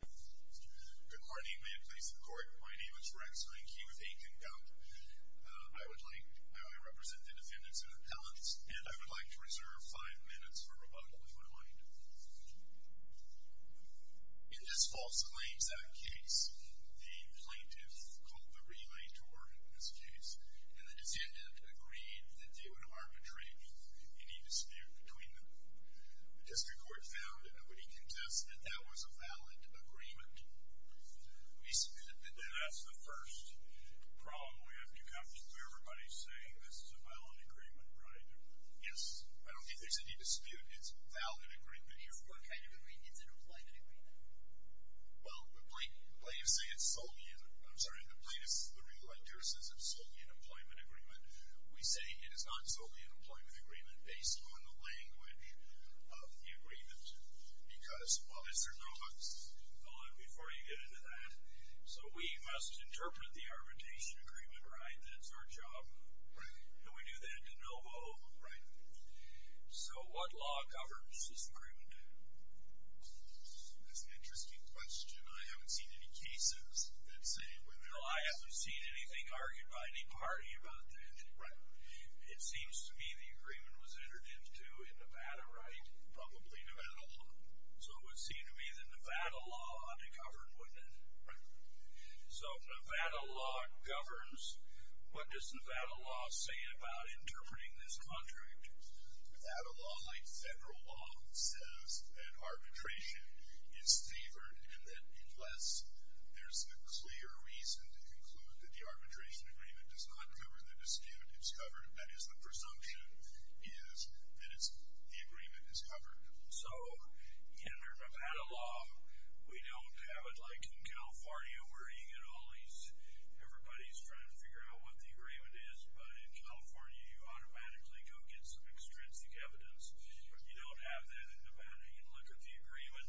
Good morning. May it please the court, my name is Rex Reinke with Aiken County. I would like, I represent the defendants in appellants, and I would like to reserve five minutes for rebuttal if you would mind. In this false claims act case, the plaintiff called the relay to order in this case, and the defendant agreed to do an arbitration, and he disputed between them. The district court found that nobody contested that that was a valid agreement. We disputed that. That's the first problem we have to come to. Everybody's saying this is a valid agreement, right? Yes. I don't think there's any dispute. It's a valid agreement here. What kind of agreement? Is it an employment agreement? Well, the plaintiffs say it's solely, I'm sorry, the plaintiffs, the relay jurors say it's solely an employment agreement. We say it is not solely an employment agreement based on the language of the agreement. Because, well, is there no X? Hold on before you get into that. So we must interpret the arbitration agreement, right? That's our job. Right. And we do that in de novo. Right. So what law governs this agreement? That's an interesting question. I haven't seen any cases that say it would. No, I haven't seen anything argued by any party about that. Right. It seems to me the agreement was entered into in Nevada, right? Probably Nevada law. So it would seem to me that Nevada law ought to govern, wouldn't it? Right. So Nevada law governs. What does Nevada law say about interpreting this contract? Nevada law, like federal law, says that arbitration is favored and that unless there's a clear reason to conclude that the arbitration agreement does not cover the dispute it's covered, that is the presumption, is that the agreement is covered. So in Nevada law, we don't have it like in California where you get all these, everybody's trying to figure out what the agreement is, but in California you automatically go get some extrinsic evidence. You don't have that in Nevada. You look at the agreement,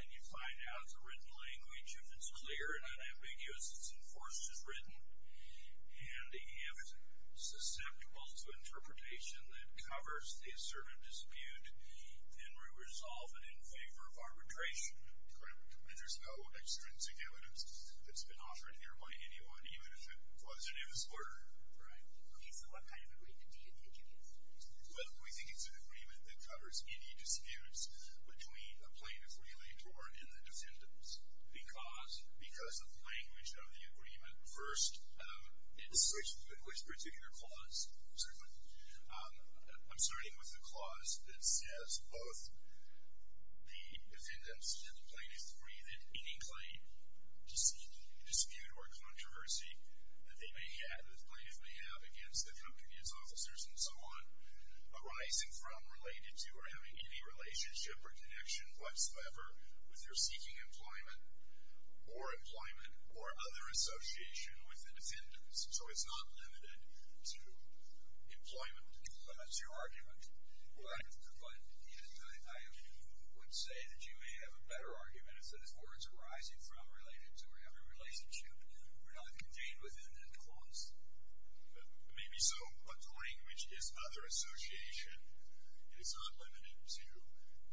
and you find out it's a written language. If it's clear and unambiguous, it's enforced as written, and if it's susceptible to interpretation that covers a certain dispute, then we resolve it in favor of arbitration. Correct. And there's no extrinsic evidence that's been offered here by anyone, even if it wasn't in this order. Right. Okay, so what kind of agreement do you think it is? Well, we think it's an agreement that covers any disputes between a plaintiff and the defendants because of the language of the agreement. First, it's in which particular clause? Certainly. I'm starting with the clause that says both the defendants and the plaintiff must agree that any claim to seek, dispute, or controversy that they may have, that the plaintiff may have, against the drug commune's officers and so on, arising from, related to, or having any relationship or connection whatsoever with their seeking employment or employment or other association with the defendants. So it's not limited to employment. So that's your argument? Well, I would say that you may have a better argument. It's that if words arising from, related to, or having a relationship were not contained within that clause. Maybe so, but the language is other association. It's not limited to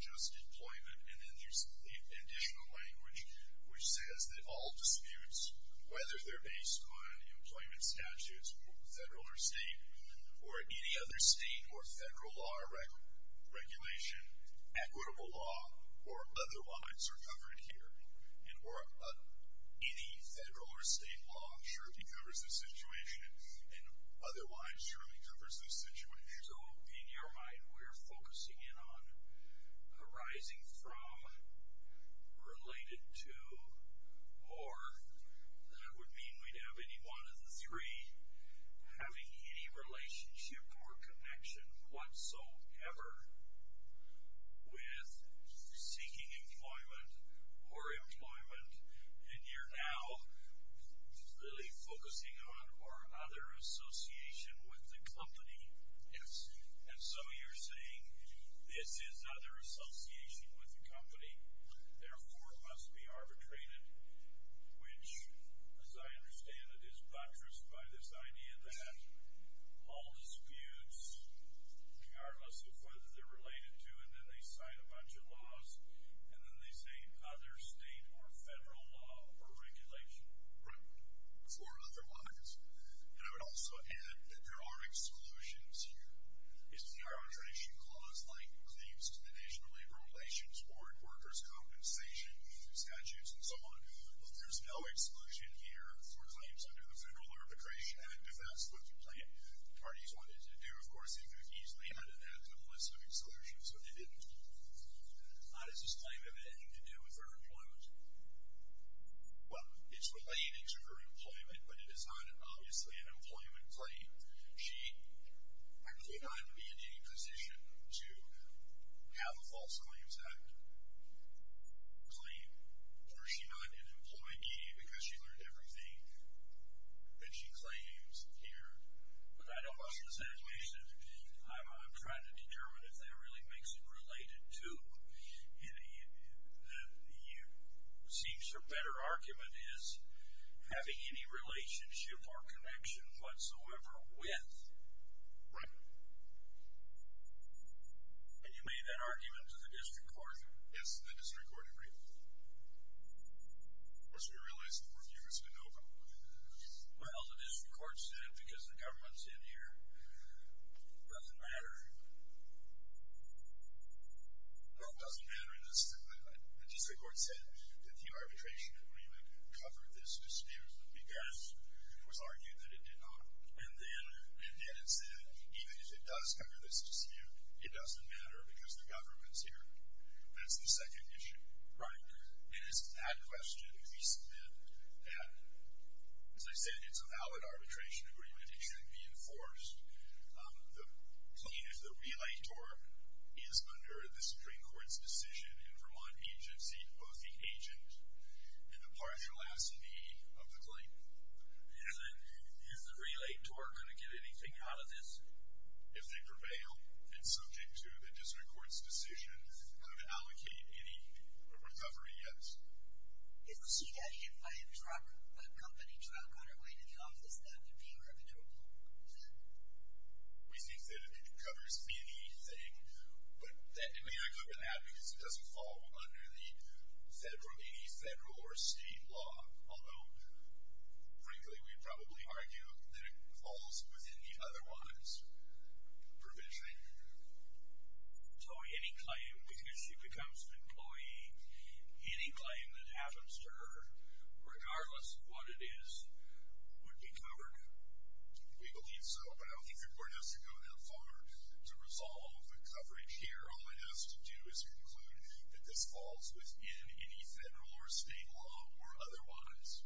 just employment. And then there's the additional language which says that all disputes, whether they're based on employment statutes, federal or state, or any other state or federal law or regulation, equitable law or otherwise are covered here. And any federal or state law surely covers this situation, and otherwise surely covers this situation. So, in your mind, we're focusing in on arising from, related to, or that would mean we'd have any one of the three, having any relationship or connection whatsoever with seeking employment or employment, and you're now really focusing on or other association with the company. Yes. And so you're saying this is other association with the company, therefore must be arbitrated, which, as I understand it, is buttressed by this idea that all disputes, regardless of whether they're related to, and then they sign a bunch of laws, and then they say other state or federal law or regulation. Right. Or otherwise. And I would also add that there are exclusions here. It's the arbitration clause, like claims to the National Labor Relations Board, workers' compensation, statutes, and so on. But there's no exclusion here for claims under the Federal Arbitration Act, defense of which the parties wanted to do. Of course, they could have easily added that to the list of exclusions, but they didn't. How does this claim have anything to do with her employment? Well, it's related to her employment, but it is not, obviously, an employment claim. She actually might not be in any position to have a false claims act claim, were she not an employee because she learned everything that she claims here. But I don't want to exaggerate. I'm trying to determine if that really makes it related to. And it seems her better argument is having any relationship or connection whatsoever with. Right. And you made that argument to the district court? Yes, the district court agreed with it. Of course, we realize that we're fewer to know about it. Well, the district court said, because the government's in here, it doesn't matter. Well, it doesn't matter in this case. The district court said that the arbitration could really cover this dispute because it was argued that it did not. And then it said, even if it does cover this dispute, it doesn't matter because the government's here. That's the second issue. Right. And it's that question that we submit that, as I said, it's a valid arbitration agreement. It should be enforced. The claimant, the relator, is under the Supreme Court's decision and from one agency to both the agent and the partial S&D of the claimant. Is the relator going to get anything out of this? If they prevail and subject to the district court's decision, could it allocate any recovery? Yes. So you're adding, if I have a company truck on our way to the office, that would be irreparable? Exactly. We think that it covers anything, but that demand could not, because it doesn't fall under any federal or state law, although, frankly, we would probably argue that it falls within the otherwise provisioning. So any claim, because she becomes an employee, any claim that happens to her, regardless of what it is, would be covered? We believe so, but I don't think the court has to go that far to resolve the coverage here. All it has to do is conclude that this falls within any federal or state law or otherwise.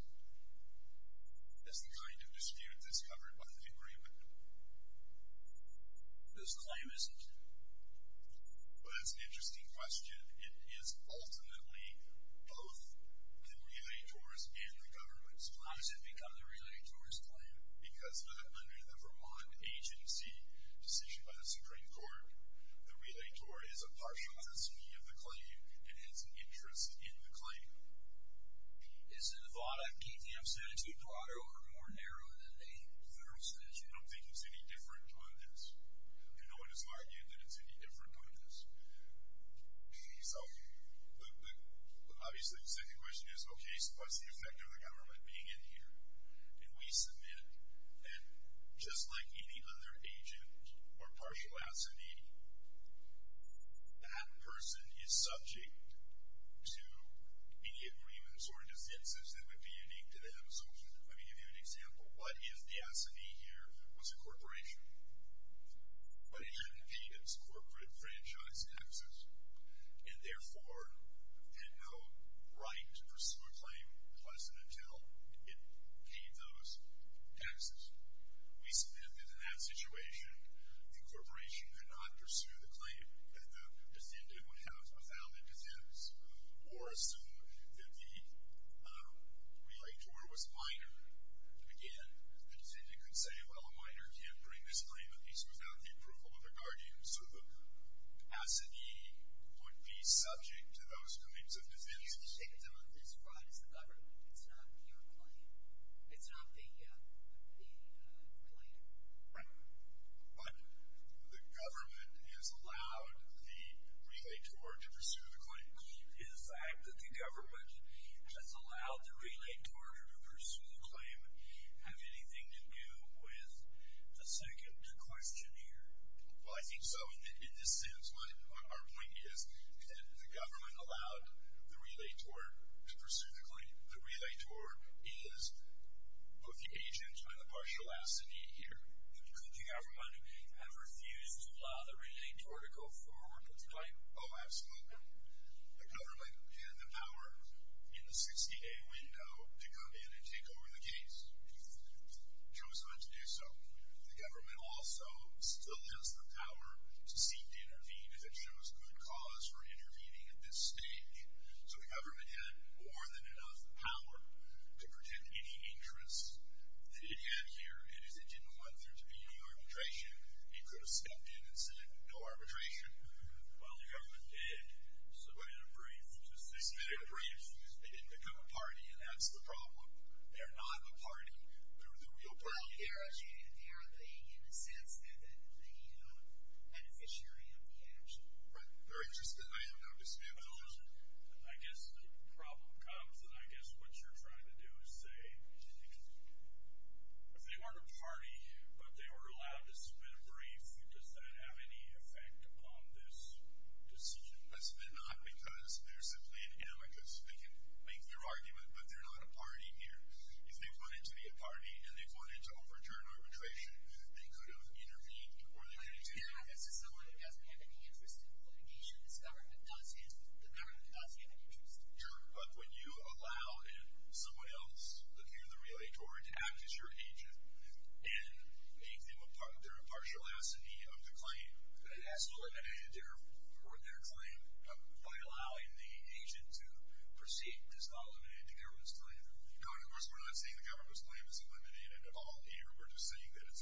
That's the kind of dispute that's covered by the agreement. This claim isn't? Well, that's an interesting question. It is ultimately both the relator's and the government's claim. How does it become the relator's claim? Because under the Vermont agency decision by the Supreme Court, the relator is a partial S&D of the claim and has an interest in the claim. Is the Nevada DTF statute broader or more narrow than a federal statute? I don't think it's any different than this, and no one is arguing that it's any different than this. So, obviously, the second question is, okay, what's the effect of the government being in here? And we submit, and just like any other agent or partial S&D, that person is subject to immediate agreements or defenses that would be unique to them. So, I mean, to give you an example, what if the S&D here was a corporation, but it hadn't paid its corporate franchise taxes and, therefore, had no right to pursue a claim unless and until it paid those taxes? We submit that in that situation, the corporation could not pursue the claim that the defendant would have without a defense or assume that the relator was minor. Again, the defendant could say, well, a minor can't bring this claim, at least without the approval of their guardian. So the S&D would be subject to those kinds of defenses. So you're saying that this fraud is the government. It's not your claim. It's not the relator. Right. But the government has allowed the relator to pursue the claim. Is the fact that the government has allowed the relator to pursue the claim have anything to do with the second question here? Well, I think so, in a sense. Our point is that the government allowed the relator to pursue the claim. The relator is both the agent and the partial assignee here. Could the government have refused to allow the relator to go forward with the claim? Oh, absolutely. The government had the power in the 60-day window to come in and take over the case. It chose not to do so. The government also still has the power to seek to intervene if it shows good cause for intervening at this stage. So the government had more than enough power to protect any interests that it had here, and as it didn't want there to be any arbitration, it could have stepped in and said, no arbitration. Well, the government did. So they had a brief. They submitted a brief. They didn't become a party, and that's the problem. They're not a party. They're the real party. Well, they're the, in a sense, they're the beneficiary of the action. Right. They're interested. I am not a beneficiary. I guess the problem comes, and I guess what you're trying to do is say if they weren't a party, but they were allowed to submit a brief, does that have any effect on this decision? That's not because they're simply an amicus. They can make their argument, but they're not a party here. If they wanted to be a party and they wanted to overturn arbitration, they could have intervened. Yeah. This is someone who doesn't have any interest in litigation. This government does have an interest. Sure, but when you allow someone else to be in the regulatory to act as your agent and make them a partial assignee of the claim, that's eliminated their claim by allowing the agent to proceed. It's not eliminated the government's claim. No, of course we're not saying the government's claim is eliminated at all here. We're just saying that it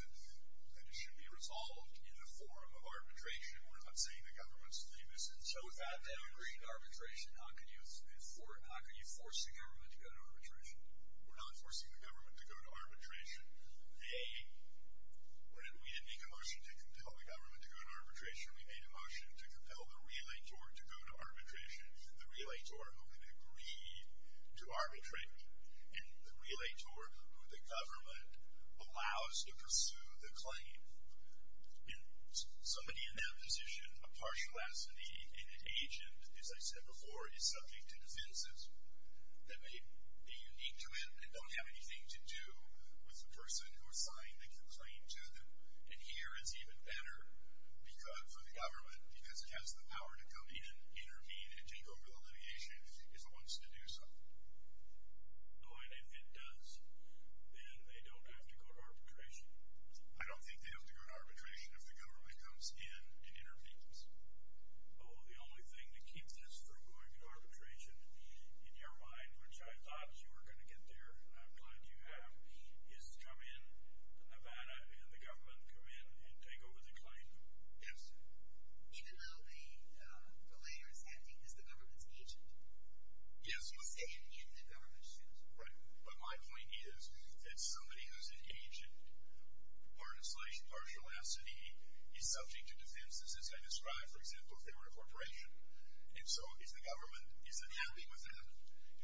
should be resolved in the form of arbitration. We're not saying the government's claim is eliminated. So if they have an agreement to arbitration, how can you force the government to go to arbitration? We're not forcing the government to go to arbitration. A, we didn't make a motion to compel the government to go to arbitration. We made a motion to compel the relator to go to arbitration. The relator only agreed to arbitrate. And the relator who the government allows to pursue the claim. In somebody in that position, a partial assignee and an agent, as I said before, is subject to defenses that may be unique to it and don't have anything to do with the person who assigned the claim to them. And here it's even better for the government because it has the power to come in and intervene and take over the litigation if it wants to do so. Oh, and if it does, then they don't have to go to arbitration? I don't think they have to go to arbitration if the government comes in and intervenes. Oh, the only thing to keep this from going to arbitration, in your mind, which I thought you were going to get there, and I'm glad you have, is come in, Nevada, and the government come in and take over the claim? Yes. Even though the relator is acting as the government's agent? Yes. Even though the relator is acting as the government's agent? Right, but my point is that somebody who's an agent, partial assignee, is subject to defenses as I described, for example, if they were a corporation. And so if the government isn't helping with that,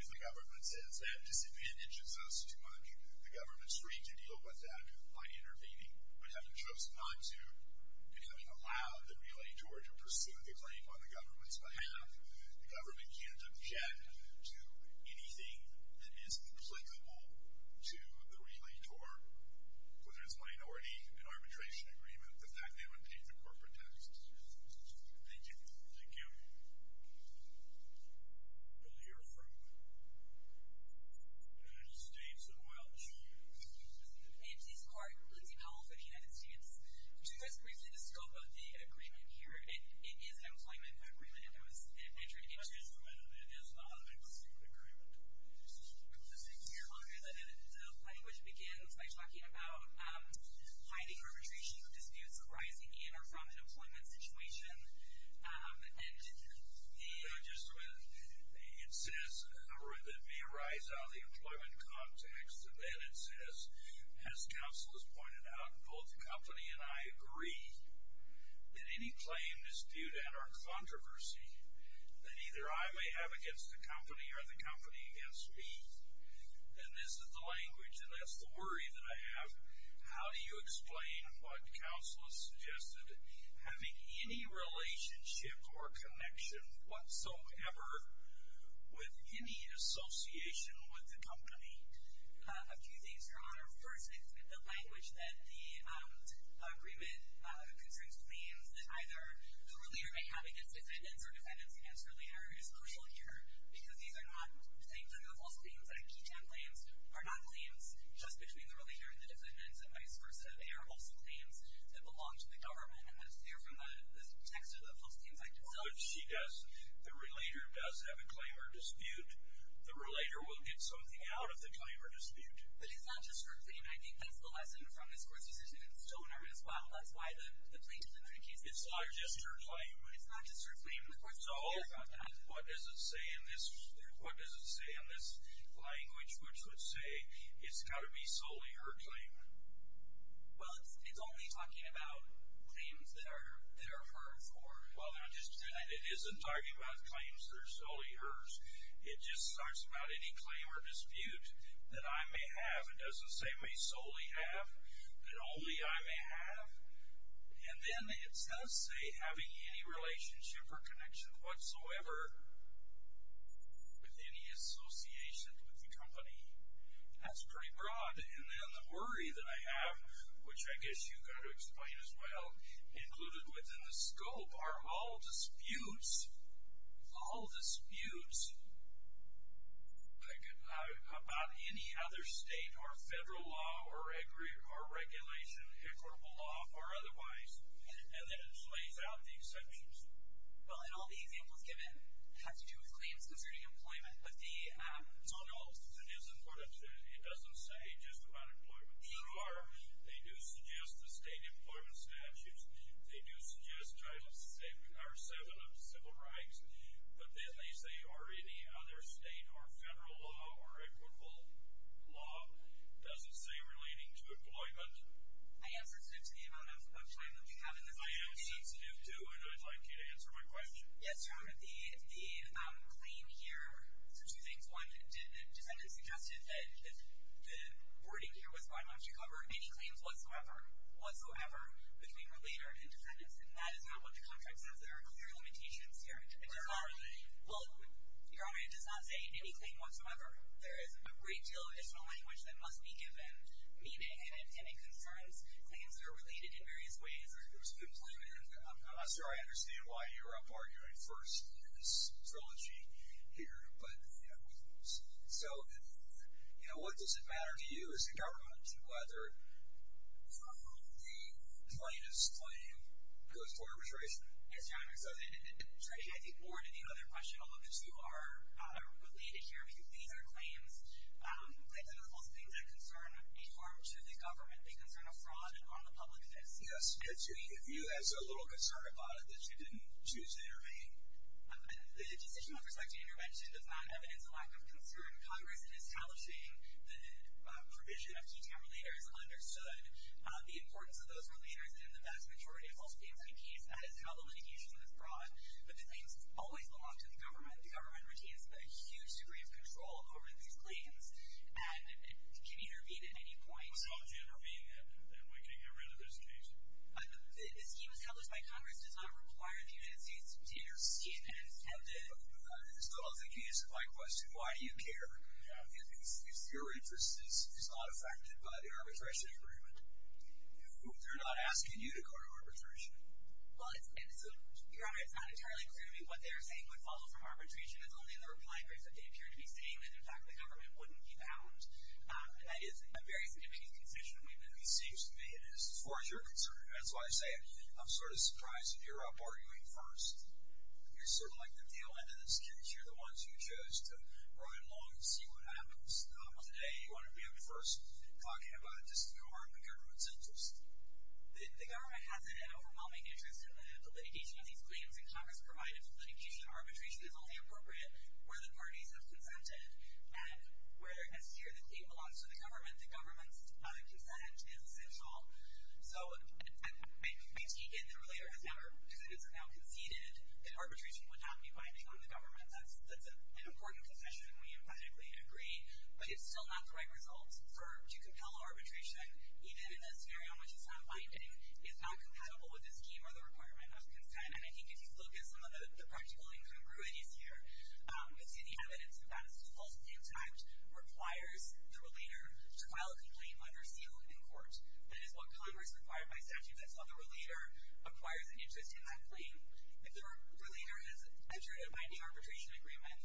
if the government says, that disadvantages us too much, the government's free to deal with that by intervening, but having chosen not to, becoming allowed the relator to pursue the claim on the government's behalf, the government can't object to anything that is inflexible to the relator, whether it's a minority and arbitration agreement, the fact they want to take the corporate test. Thank you. Thank you. We'll hear from United States and Welsh. Hey, this is Clark. Lindsey Powell for the United States. Could you guys briefly discuss the scope of the agreement here? It is an employment agreement. It was entered into. It is an employment agreement. It is not an employment agreement. It's a six-year agreement. The language begins by talking about hiding arbitration disputes arising in or from an employment situation. It says, or it may arise out of the employment context, and then it says, as counsel has pointed out, both the company and I agree that any claim to arbitration dispute at our controversy that either I may have against the company or the company against me. And this is the language, and that's the worry that I have. How do you explain what counsel has suggested, having any relationship or connection whatsoever with any association with the company? A few things, Your Honor. First, it's the language that the agreement concerns claims that either the relator may have against defendants or defendants against the relator. It is crucial here because these are not, say, criminal false claims. IP10 claims are not claims just between the relator and the defendants and vice versa. They are also claims that belong to the government, and they're from the text of the False Claims Act itself. But she does, the relator does have a claim or dispute. The relator will get something out of the claim or dispute. But it's not just her claim. I think that's the lesson from this Court's decision in Stoner as well. That's why the plaintiff in that case... It's not just her claim. It's not just her claim. So what does it say in this language which would say it's got to be solely her claim? Well, it's only talking about claims that are her for. Well, it isn't talking about claims that are solely hers. It just talks about any claim or dispute that I may have. It doesn't say may solely have. That only I may have. And then it doesn't say having any relationship or connection whatsoever with any association with the company. That's pretty broad. And then the worry that I have, which I guess you've got to explain as well, included within the scope are all disputes. All disputes. About any other state or federal law or regulation, equitable law or otherwise. And then it lays out the exceptions. Well, and all the examples given have to do with claims concerning employment. But the... No, no. It doesn't say just about employment. Sure, they do suggest the state employment statutes. They do suggest Title VI or VII of civil rights. But then they say or any other state or federal law or equitable law doesn't say relating to employment. I am sensitive to the amount of time that we have in this session. I am sensitive too and I'd like you to answer my question. Yes, John. The claim here... So two things. One, the defendant suggested that if the wording here was why don't you cover any claims whatsoever between the leader and the defendant. And that is not what the contract says. There are clear limitations here. Well, your argument does not say any claim whatsoever. There is a great deal of additional language that must be given maybe to any concerns. Claims are related in various ways. It was a good point. And I'm not sure I understand why you're arguing first in this trilogy here. But, you know, both of us. So, you know, what does it matter to you as a government to whether from whom the plaintiff's claim goes toward arbitration? Yes, John. I think more to the other question. Although the two are related here, I think these are claims that go to false claims that concern a harm to the government, they concern a fraud and harm the public interest. Yes. If you had so little concern about it that you didn't choose to intervene. The decision with respect to intervention does not evidence a lack of concern. Congress in establishing the provision of key time-relaters understood the importance of those time-relaters and the vast majority of false claims in a case. That is how the litigation was brought. But the things always belong to the government. The government retains a huge degree of control over these claims and can intervene at any point. What's wrong with you intervening and we can get rid of this case? This scheme established by Congress does not require the United States to intervene. It's stupid. It's stupid. So, I think you answered my question. Why do you care? Because your interest is not affected by the arbitration agreement. They're not asking you to go to arbitration. Well, it's not entirely clear to me what they're saying would follow from arbitration if it's only in the reply brief that they appear to be saying that, in fact, the government wouldn't be bound. That is a very significant confusion that seems to me. As far as you're concerned, that's why I say it. I'm sort of surprised that you're up arguing first. You're sort of like the tail end of the security. You're the ones who chose to run along and see what happens. Today, you want to be up first talking about just the harm of the government's interest. The government has an overwhelming interest in the litigation of these claims and Congress provided for litigation and arbitration is only appropriate where the parties have consented and where they're necessary. The claim belongs to the government. The government's consent is essential. So, Maitike and the relator have now conceded that arbitration would not be binding on the government. That's an important concession. We emphatically agree. But it's still not the right result to compel arbitration even in a scenario in which it's not binding, it's not compatible with the scheme or the requirement of consent. And I think if you look at some of the practical incongruities here, you see the evidence that a false name tag requires the relator to file a complaint under seal in court. That is what Congress required by statute. That's why the relator acquires an interest in that claim. If the relator has entered a binding arbitration agreement,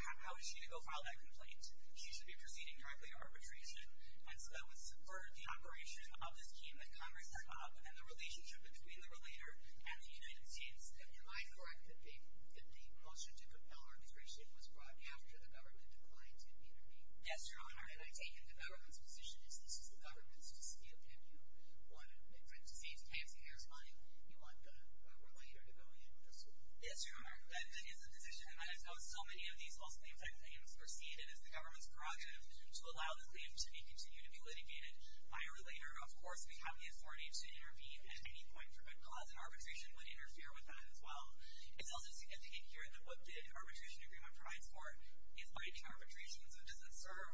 how is she to go file that complaint? She should be proceeding And so that would support the operation of this scheme that Congress has come up with and the relationship between the relator and the United States. And am I correct that the motion to compel arbitration was brought after the government declined to intervene? Yes, Your Honor. And I take it the government's position is this is the government's decision. If you want to make a safe case and there's money, you want the relator to go in and pursue it. Yes, Your Honor. That is the position. And I know so many of these false name tag claims are seen as the government's project to allow the claim to continue to be litigated by a relator. Of course, we have the authority to intervene at any point for good cause and arbitration would interfere with that as well. It's also significant here that what the arbitration agreement provides for is binding arbitration. So it doesn't serve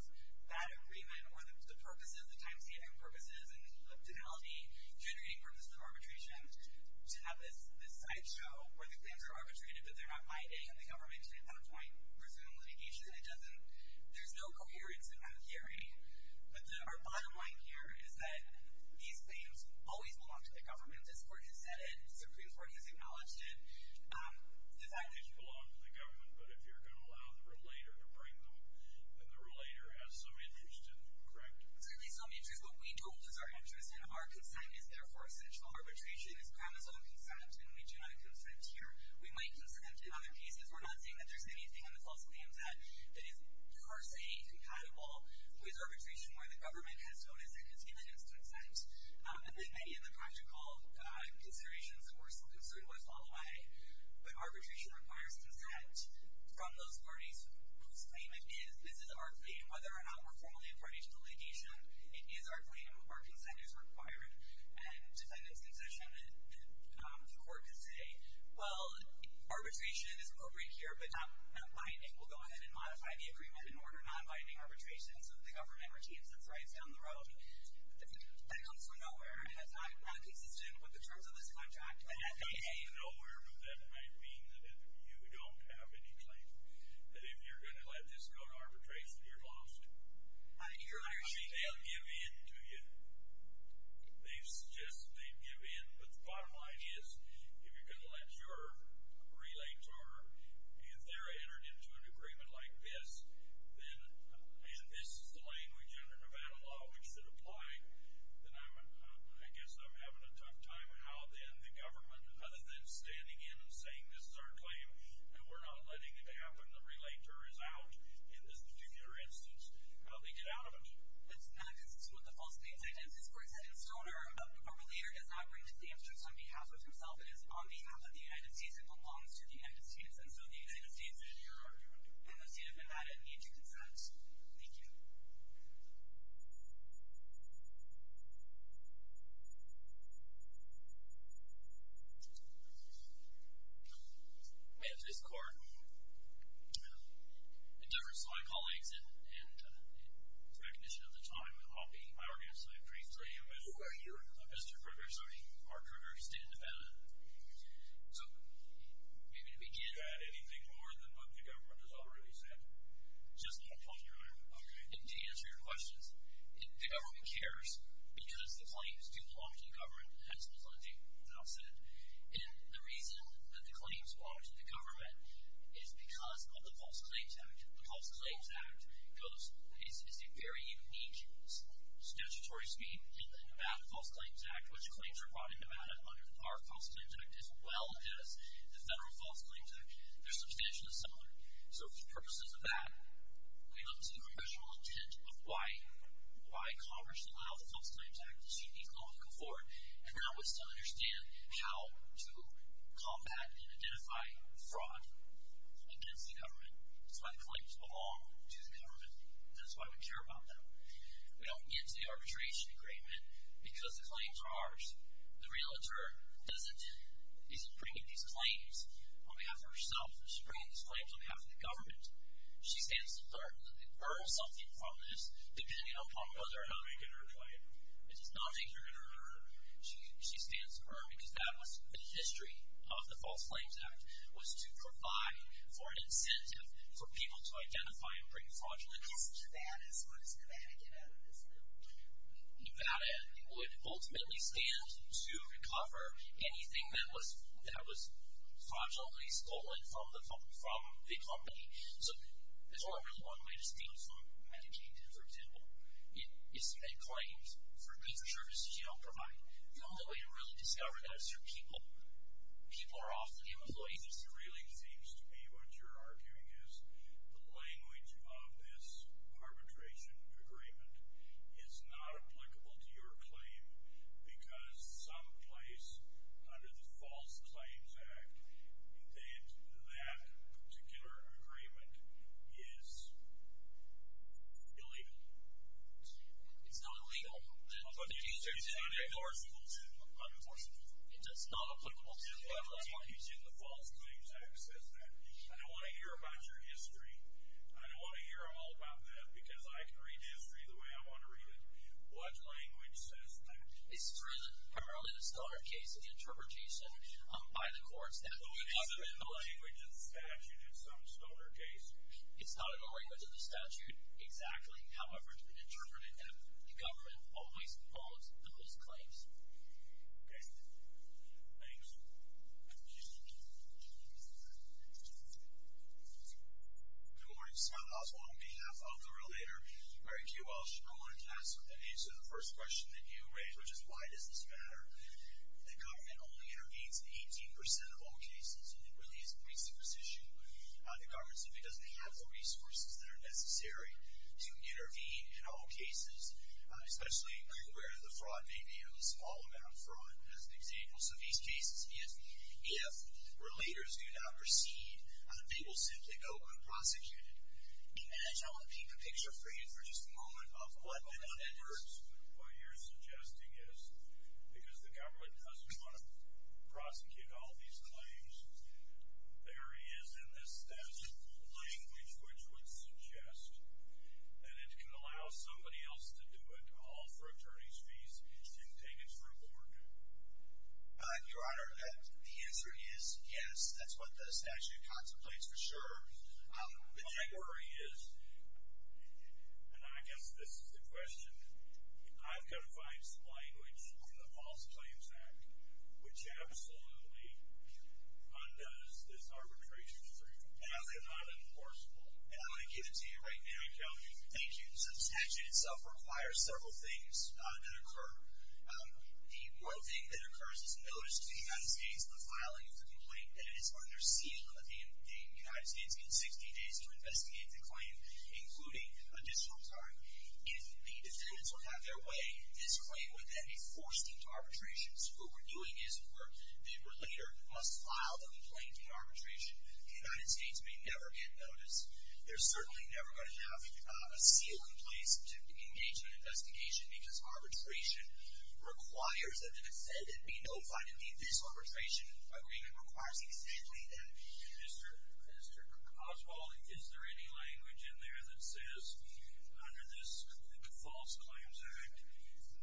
that agreement or the purposes, the time-saving purposes and the finality generating purposes of arbitration to have this sideshow where the claims are arbitrated but they're not ID and the government at some point resumed litigation. It doesn't, there's no coherence in that theory. But our bottom line here is that these claims always belong to the government as court has said it and the Supreme Court has acknowledged it. The fact that... These belong to the government but if you're going to allow the relator to bring them then the relator has some interest in them, correct? Certainly some interest. What we do is our interest and our consent is therefore essential. Arbitration is promisal in consent and we do not consent here. We might consent in other cases. We're not saying that there's anything in the false claims that is per se compatible with arbitration where the government has shown as it has given its consent and that many of the practical considerations that we're so concerned with fall away. But arbitration requires consent from those parties whose claim it is. This is our claim. Whether or not we're formally a party to the litigation it is our claim. Our consent is required and if that is concession then the court can say well, arbitration is appropriate here but not binding. We'll go ahead and modify the agreement in order not binding arbitration so that the government retains its rights to do what it wants down the road. That comes from nowhere and that's not consistent with the terms of this contract. That comes from nowhere but that might mean that if you don't have any claim that if you're going to let this go to arbitration you're lost. I mean, they'll give in to you. They've suggested they'd give in but the bottom line is if you're going to let your relay term if they're entered into an agreement like this then and this is the language under Nevada law which should apply then I'm I guess I'm having a tough time on how then the government other than standing in and saying this is our claim and we're not letting it happen, the relay term is out in this particular instance how do they get out of it? That's not that's not some of the false names I did this court said in Stoner a relayer does not bring to the answer on behalf of himself it is on behalf of the United States it belongs to the United States and so the United States does not belong to the government as already said just one question your honor okay to answer your questions the government cares because the claims do belong to the government as Ms. Lindsey now said and the reason that the claims belong to the government is because of the False Claims Act the False Claims Act goes is a very unique statutory scheme in the Nevada False Claims Act which claims are brought in Nevada under our False Claims Act as well as the Federal False Claims Act there's substantial similarity so for the purposes of that we look to the congressional intent of why why Congress allowed the False Claims Act to be called to come forward and we're not willing to understand how to combat and identify fraud against the government that's why the claims belong to the government that's why we care about them we don't get into the arbitration agreement because the claims are ours the realtor doesn't isn't bringing these claims on behalf of herself she's bringing these claims on behalf of the government she stands to learn that they earn something from this depending upon whether or not they get hurt by it it's not a you're going to hurt her she stands to learn because that was the history of the False Claims Act was to provide for an incentive for people to identify and bring fraud to the government Nevada would ultimately stand to recover anything that was that was fraudulently stolen from the company so there's only really one way to steal from Medicaid for example it's a claim for a piece of service that you don't provide the only way to really discover that is through people people are often employees it really seems to be what you're arguing is the language of this arbitration agreement is not applicable to your claim because some place under the False Claims Act that that particular agreement is illegal it's not illegal it's not unenforceable it's not applicable to the False Claims Act says that I don't want to hear about your history I don't want to hear all about that because I can read history the way I want to read it what language says that? It's written primarily in a stoner case and interpretation by the courts that we have written the language in statute in some stoner case it's not in the language of the statute exactly however interpreted the government always holds the false claims okay thanks good morning to Scott Oswald on behalf of the relator Mary Q. Walsh I wanted to ask what that means so the first question that you raised which is why does this matter the government only intervenes in 18% of all cases it really is a precipitous issue the government simply doesn't have the resources that are required to prosecute it I want to paint a picture for you for just a moment of what that means what you're suggesting is because the government doesn't want to prosecute all these claims there is in this language which would suggest that it can allow somebody else to do it can it allow for attorneys fees to be taken through court your honor the answer is yes that's what the statute contemplates for sure my worry is and I guess this is the question I've got to find some language the statute requires several things that occur the one thing that occurs is notice to the United States in the filing of the complaint that it is under seizure of the United States in 60 days to investigate the claim including additional time if the defendants will have their way this claim would then be forced into arbitration so what we're doing is we're we're later must file the complaint in arbitration the United States may never get notice they're certainly never going to have a seal in place to engage in investigation because arbitration requires that the defendant be notified to leave this arbitration agreement requires the defendant leave that Mr. Oswald is there any language in there that says under this false claims act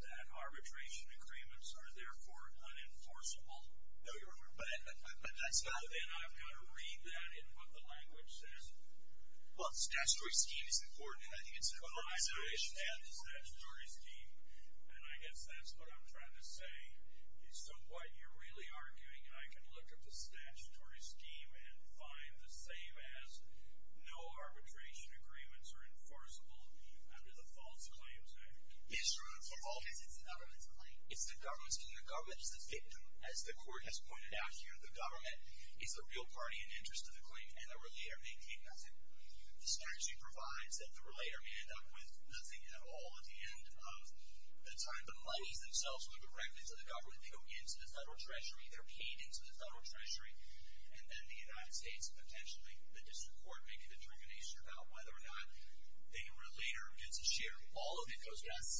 that arbitration agreements are therefore unenforceable no your but that's not and I've got to read that in what the language says well statutory scheme is important and I think it's an important issue and I guess that's what I'm trying to say is so what you're really arguing I can look up the statutory scheme and find the same as no arbitration agreements are enforceable under the false claims act and I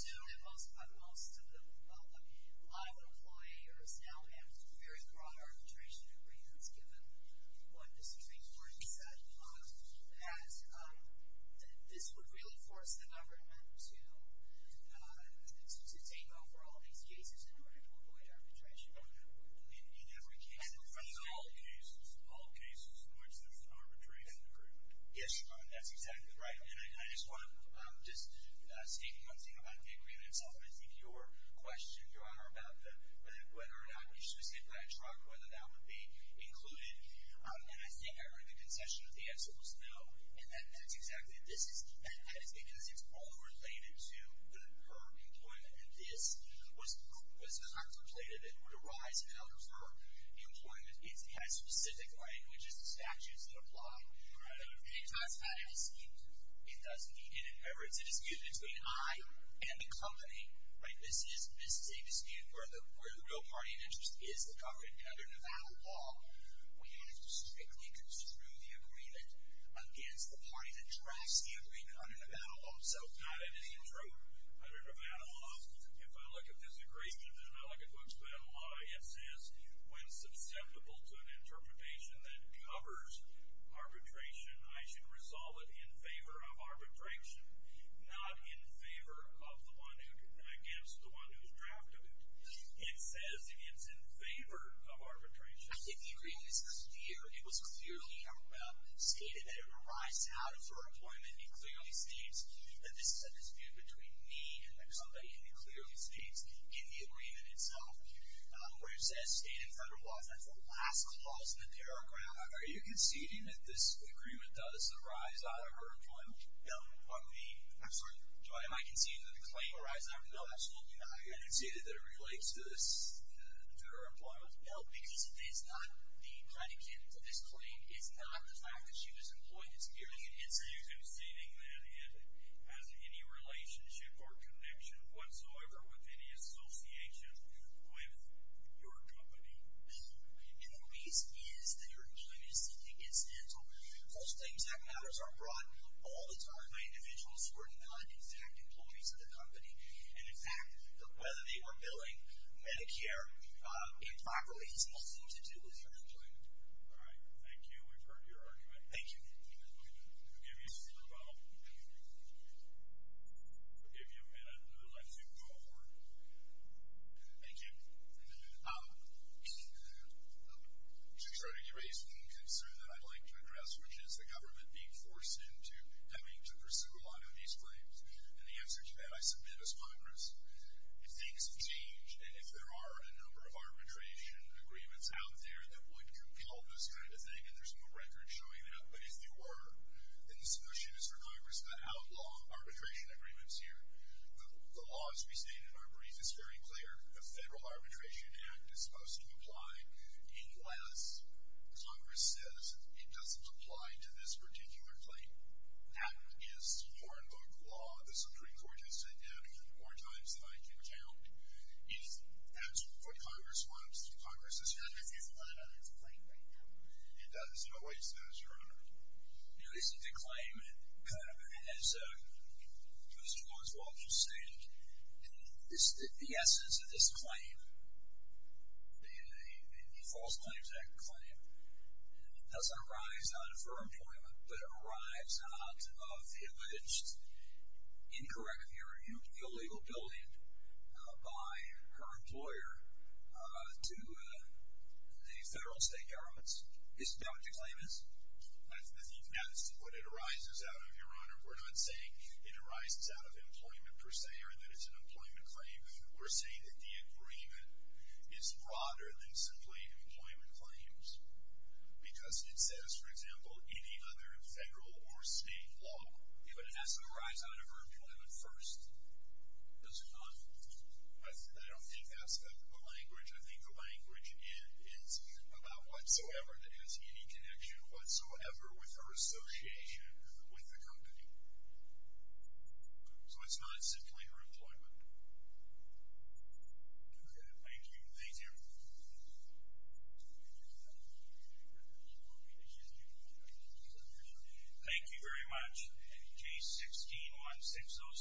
know that most of the law employers now have very broad arbitration agreements given what the Supreme Court said that this would really force the government to take over all these cases in order to avoid arbitration in every case in all cases thank you very much case 16 16070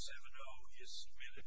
is submitted thank you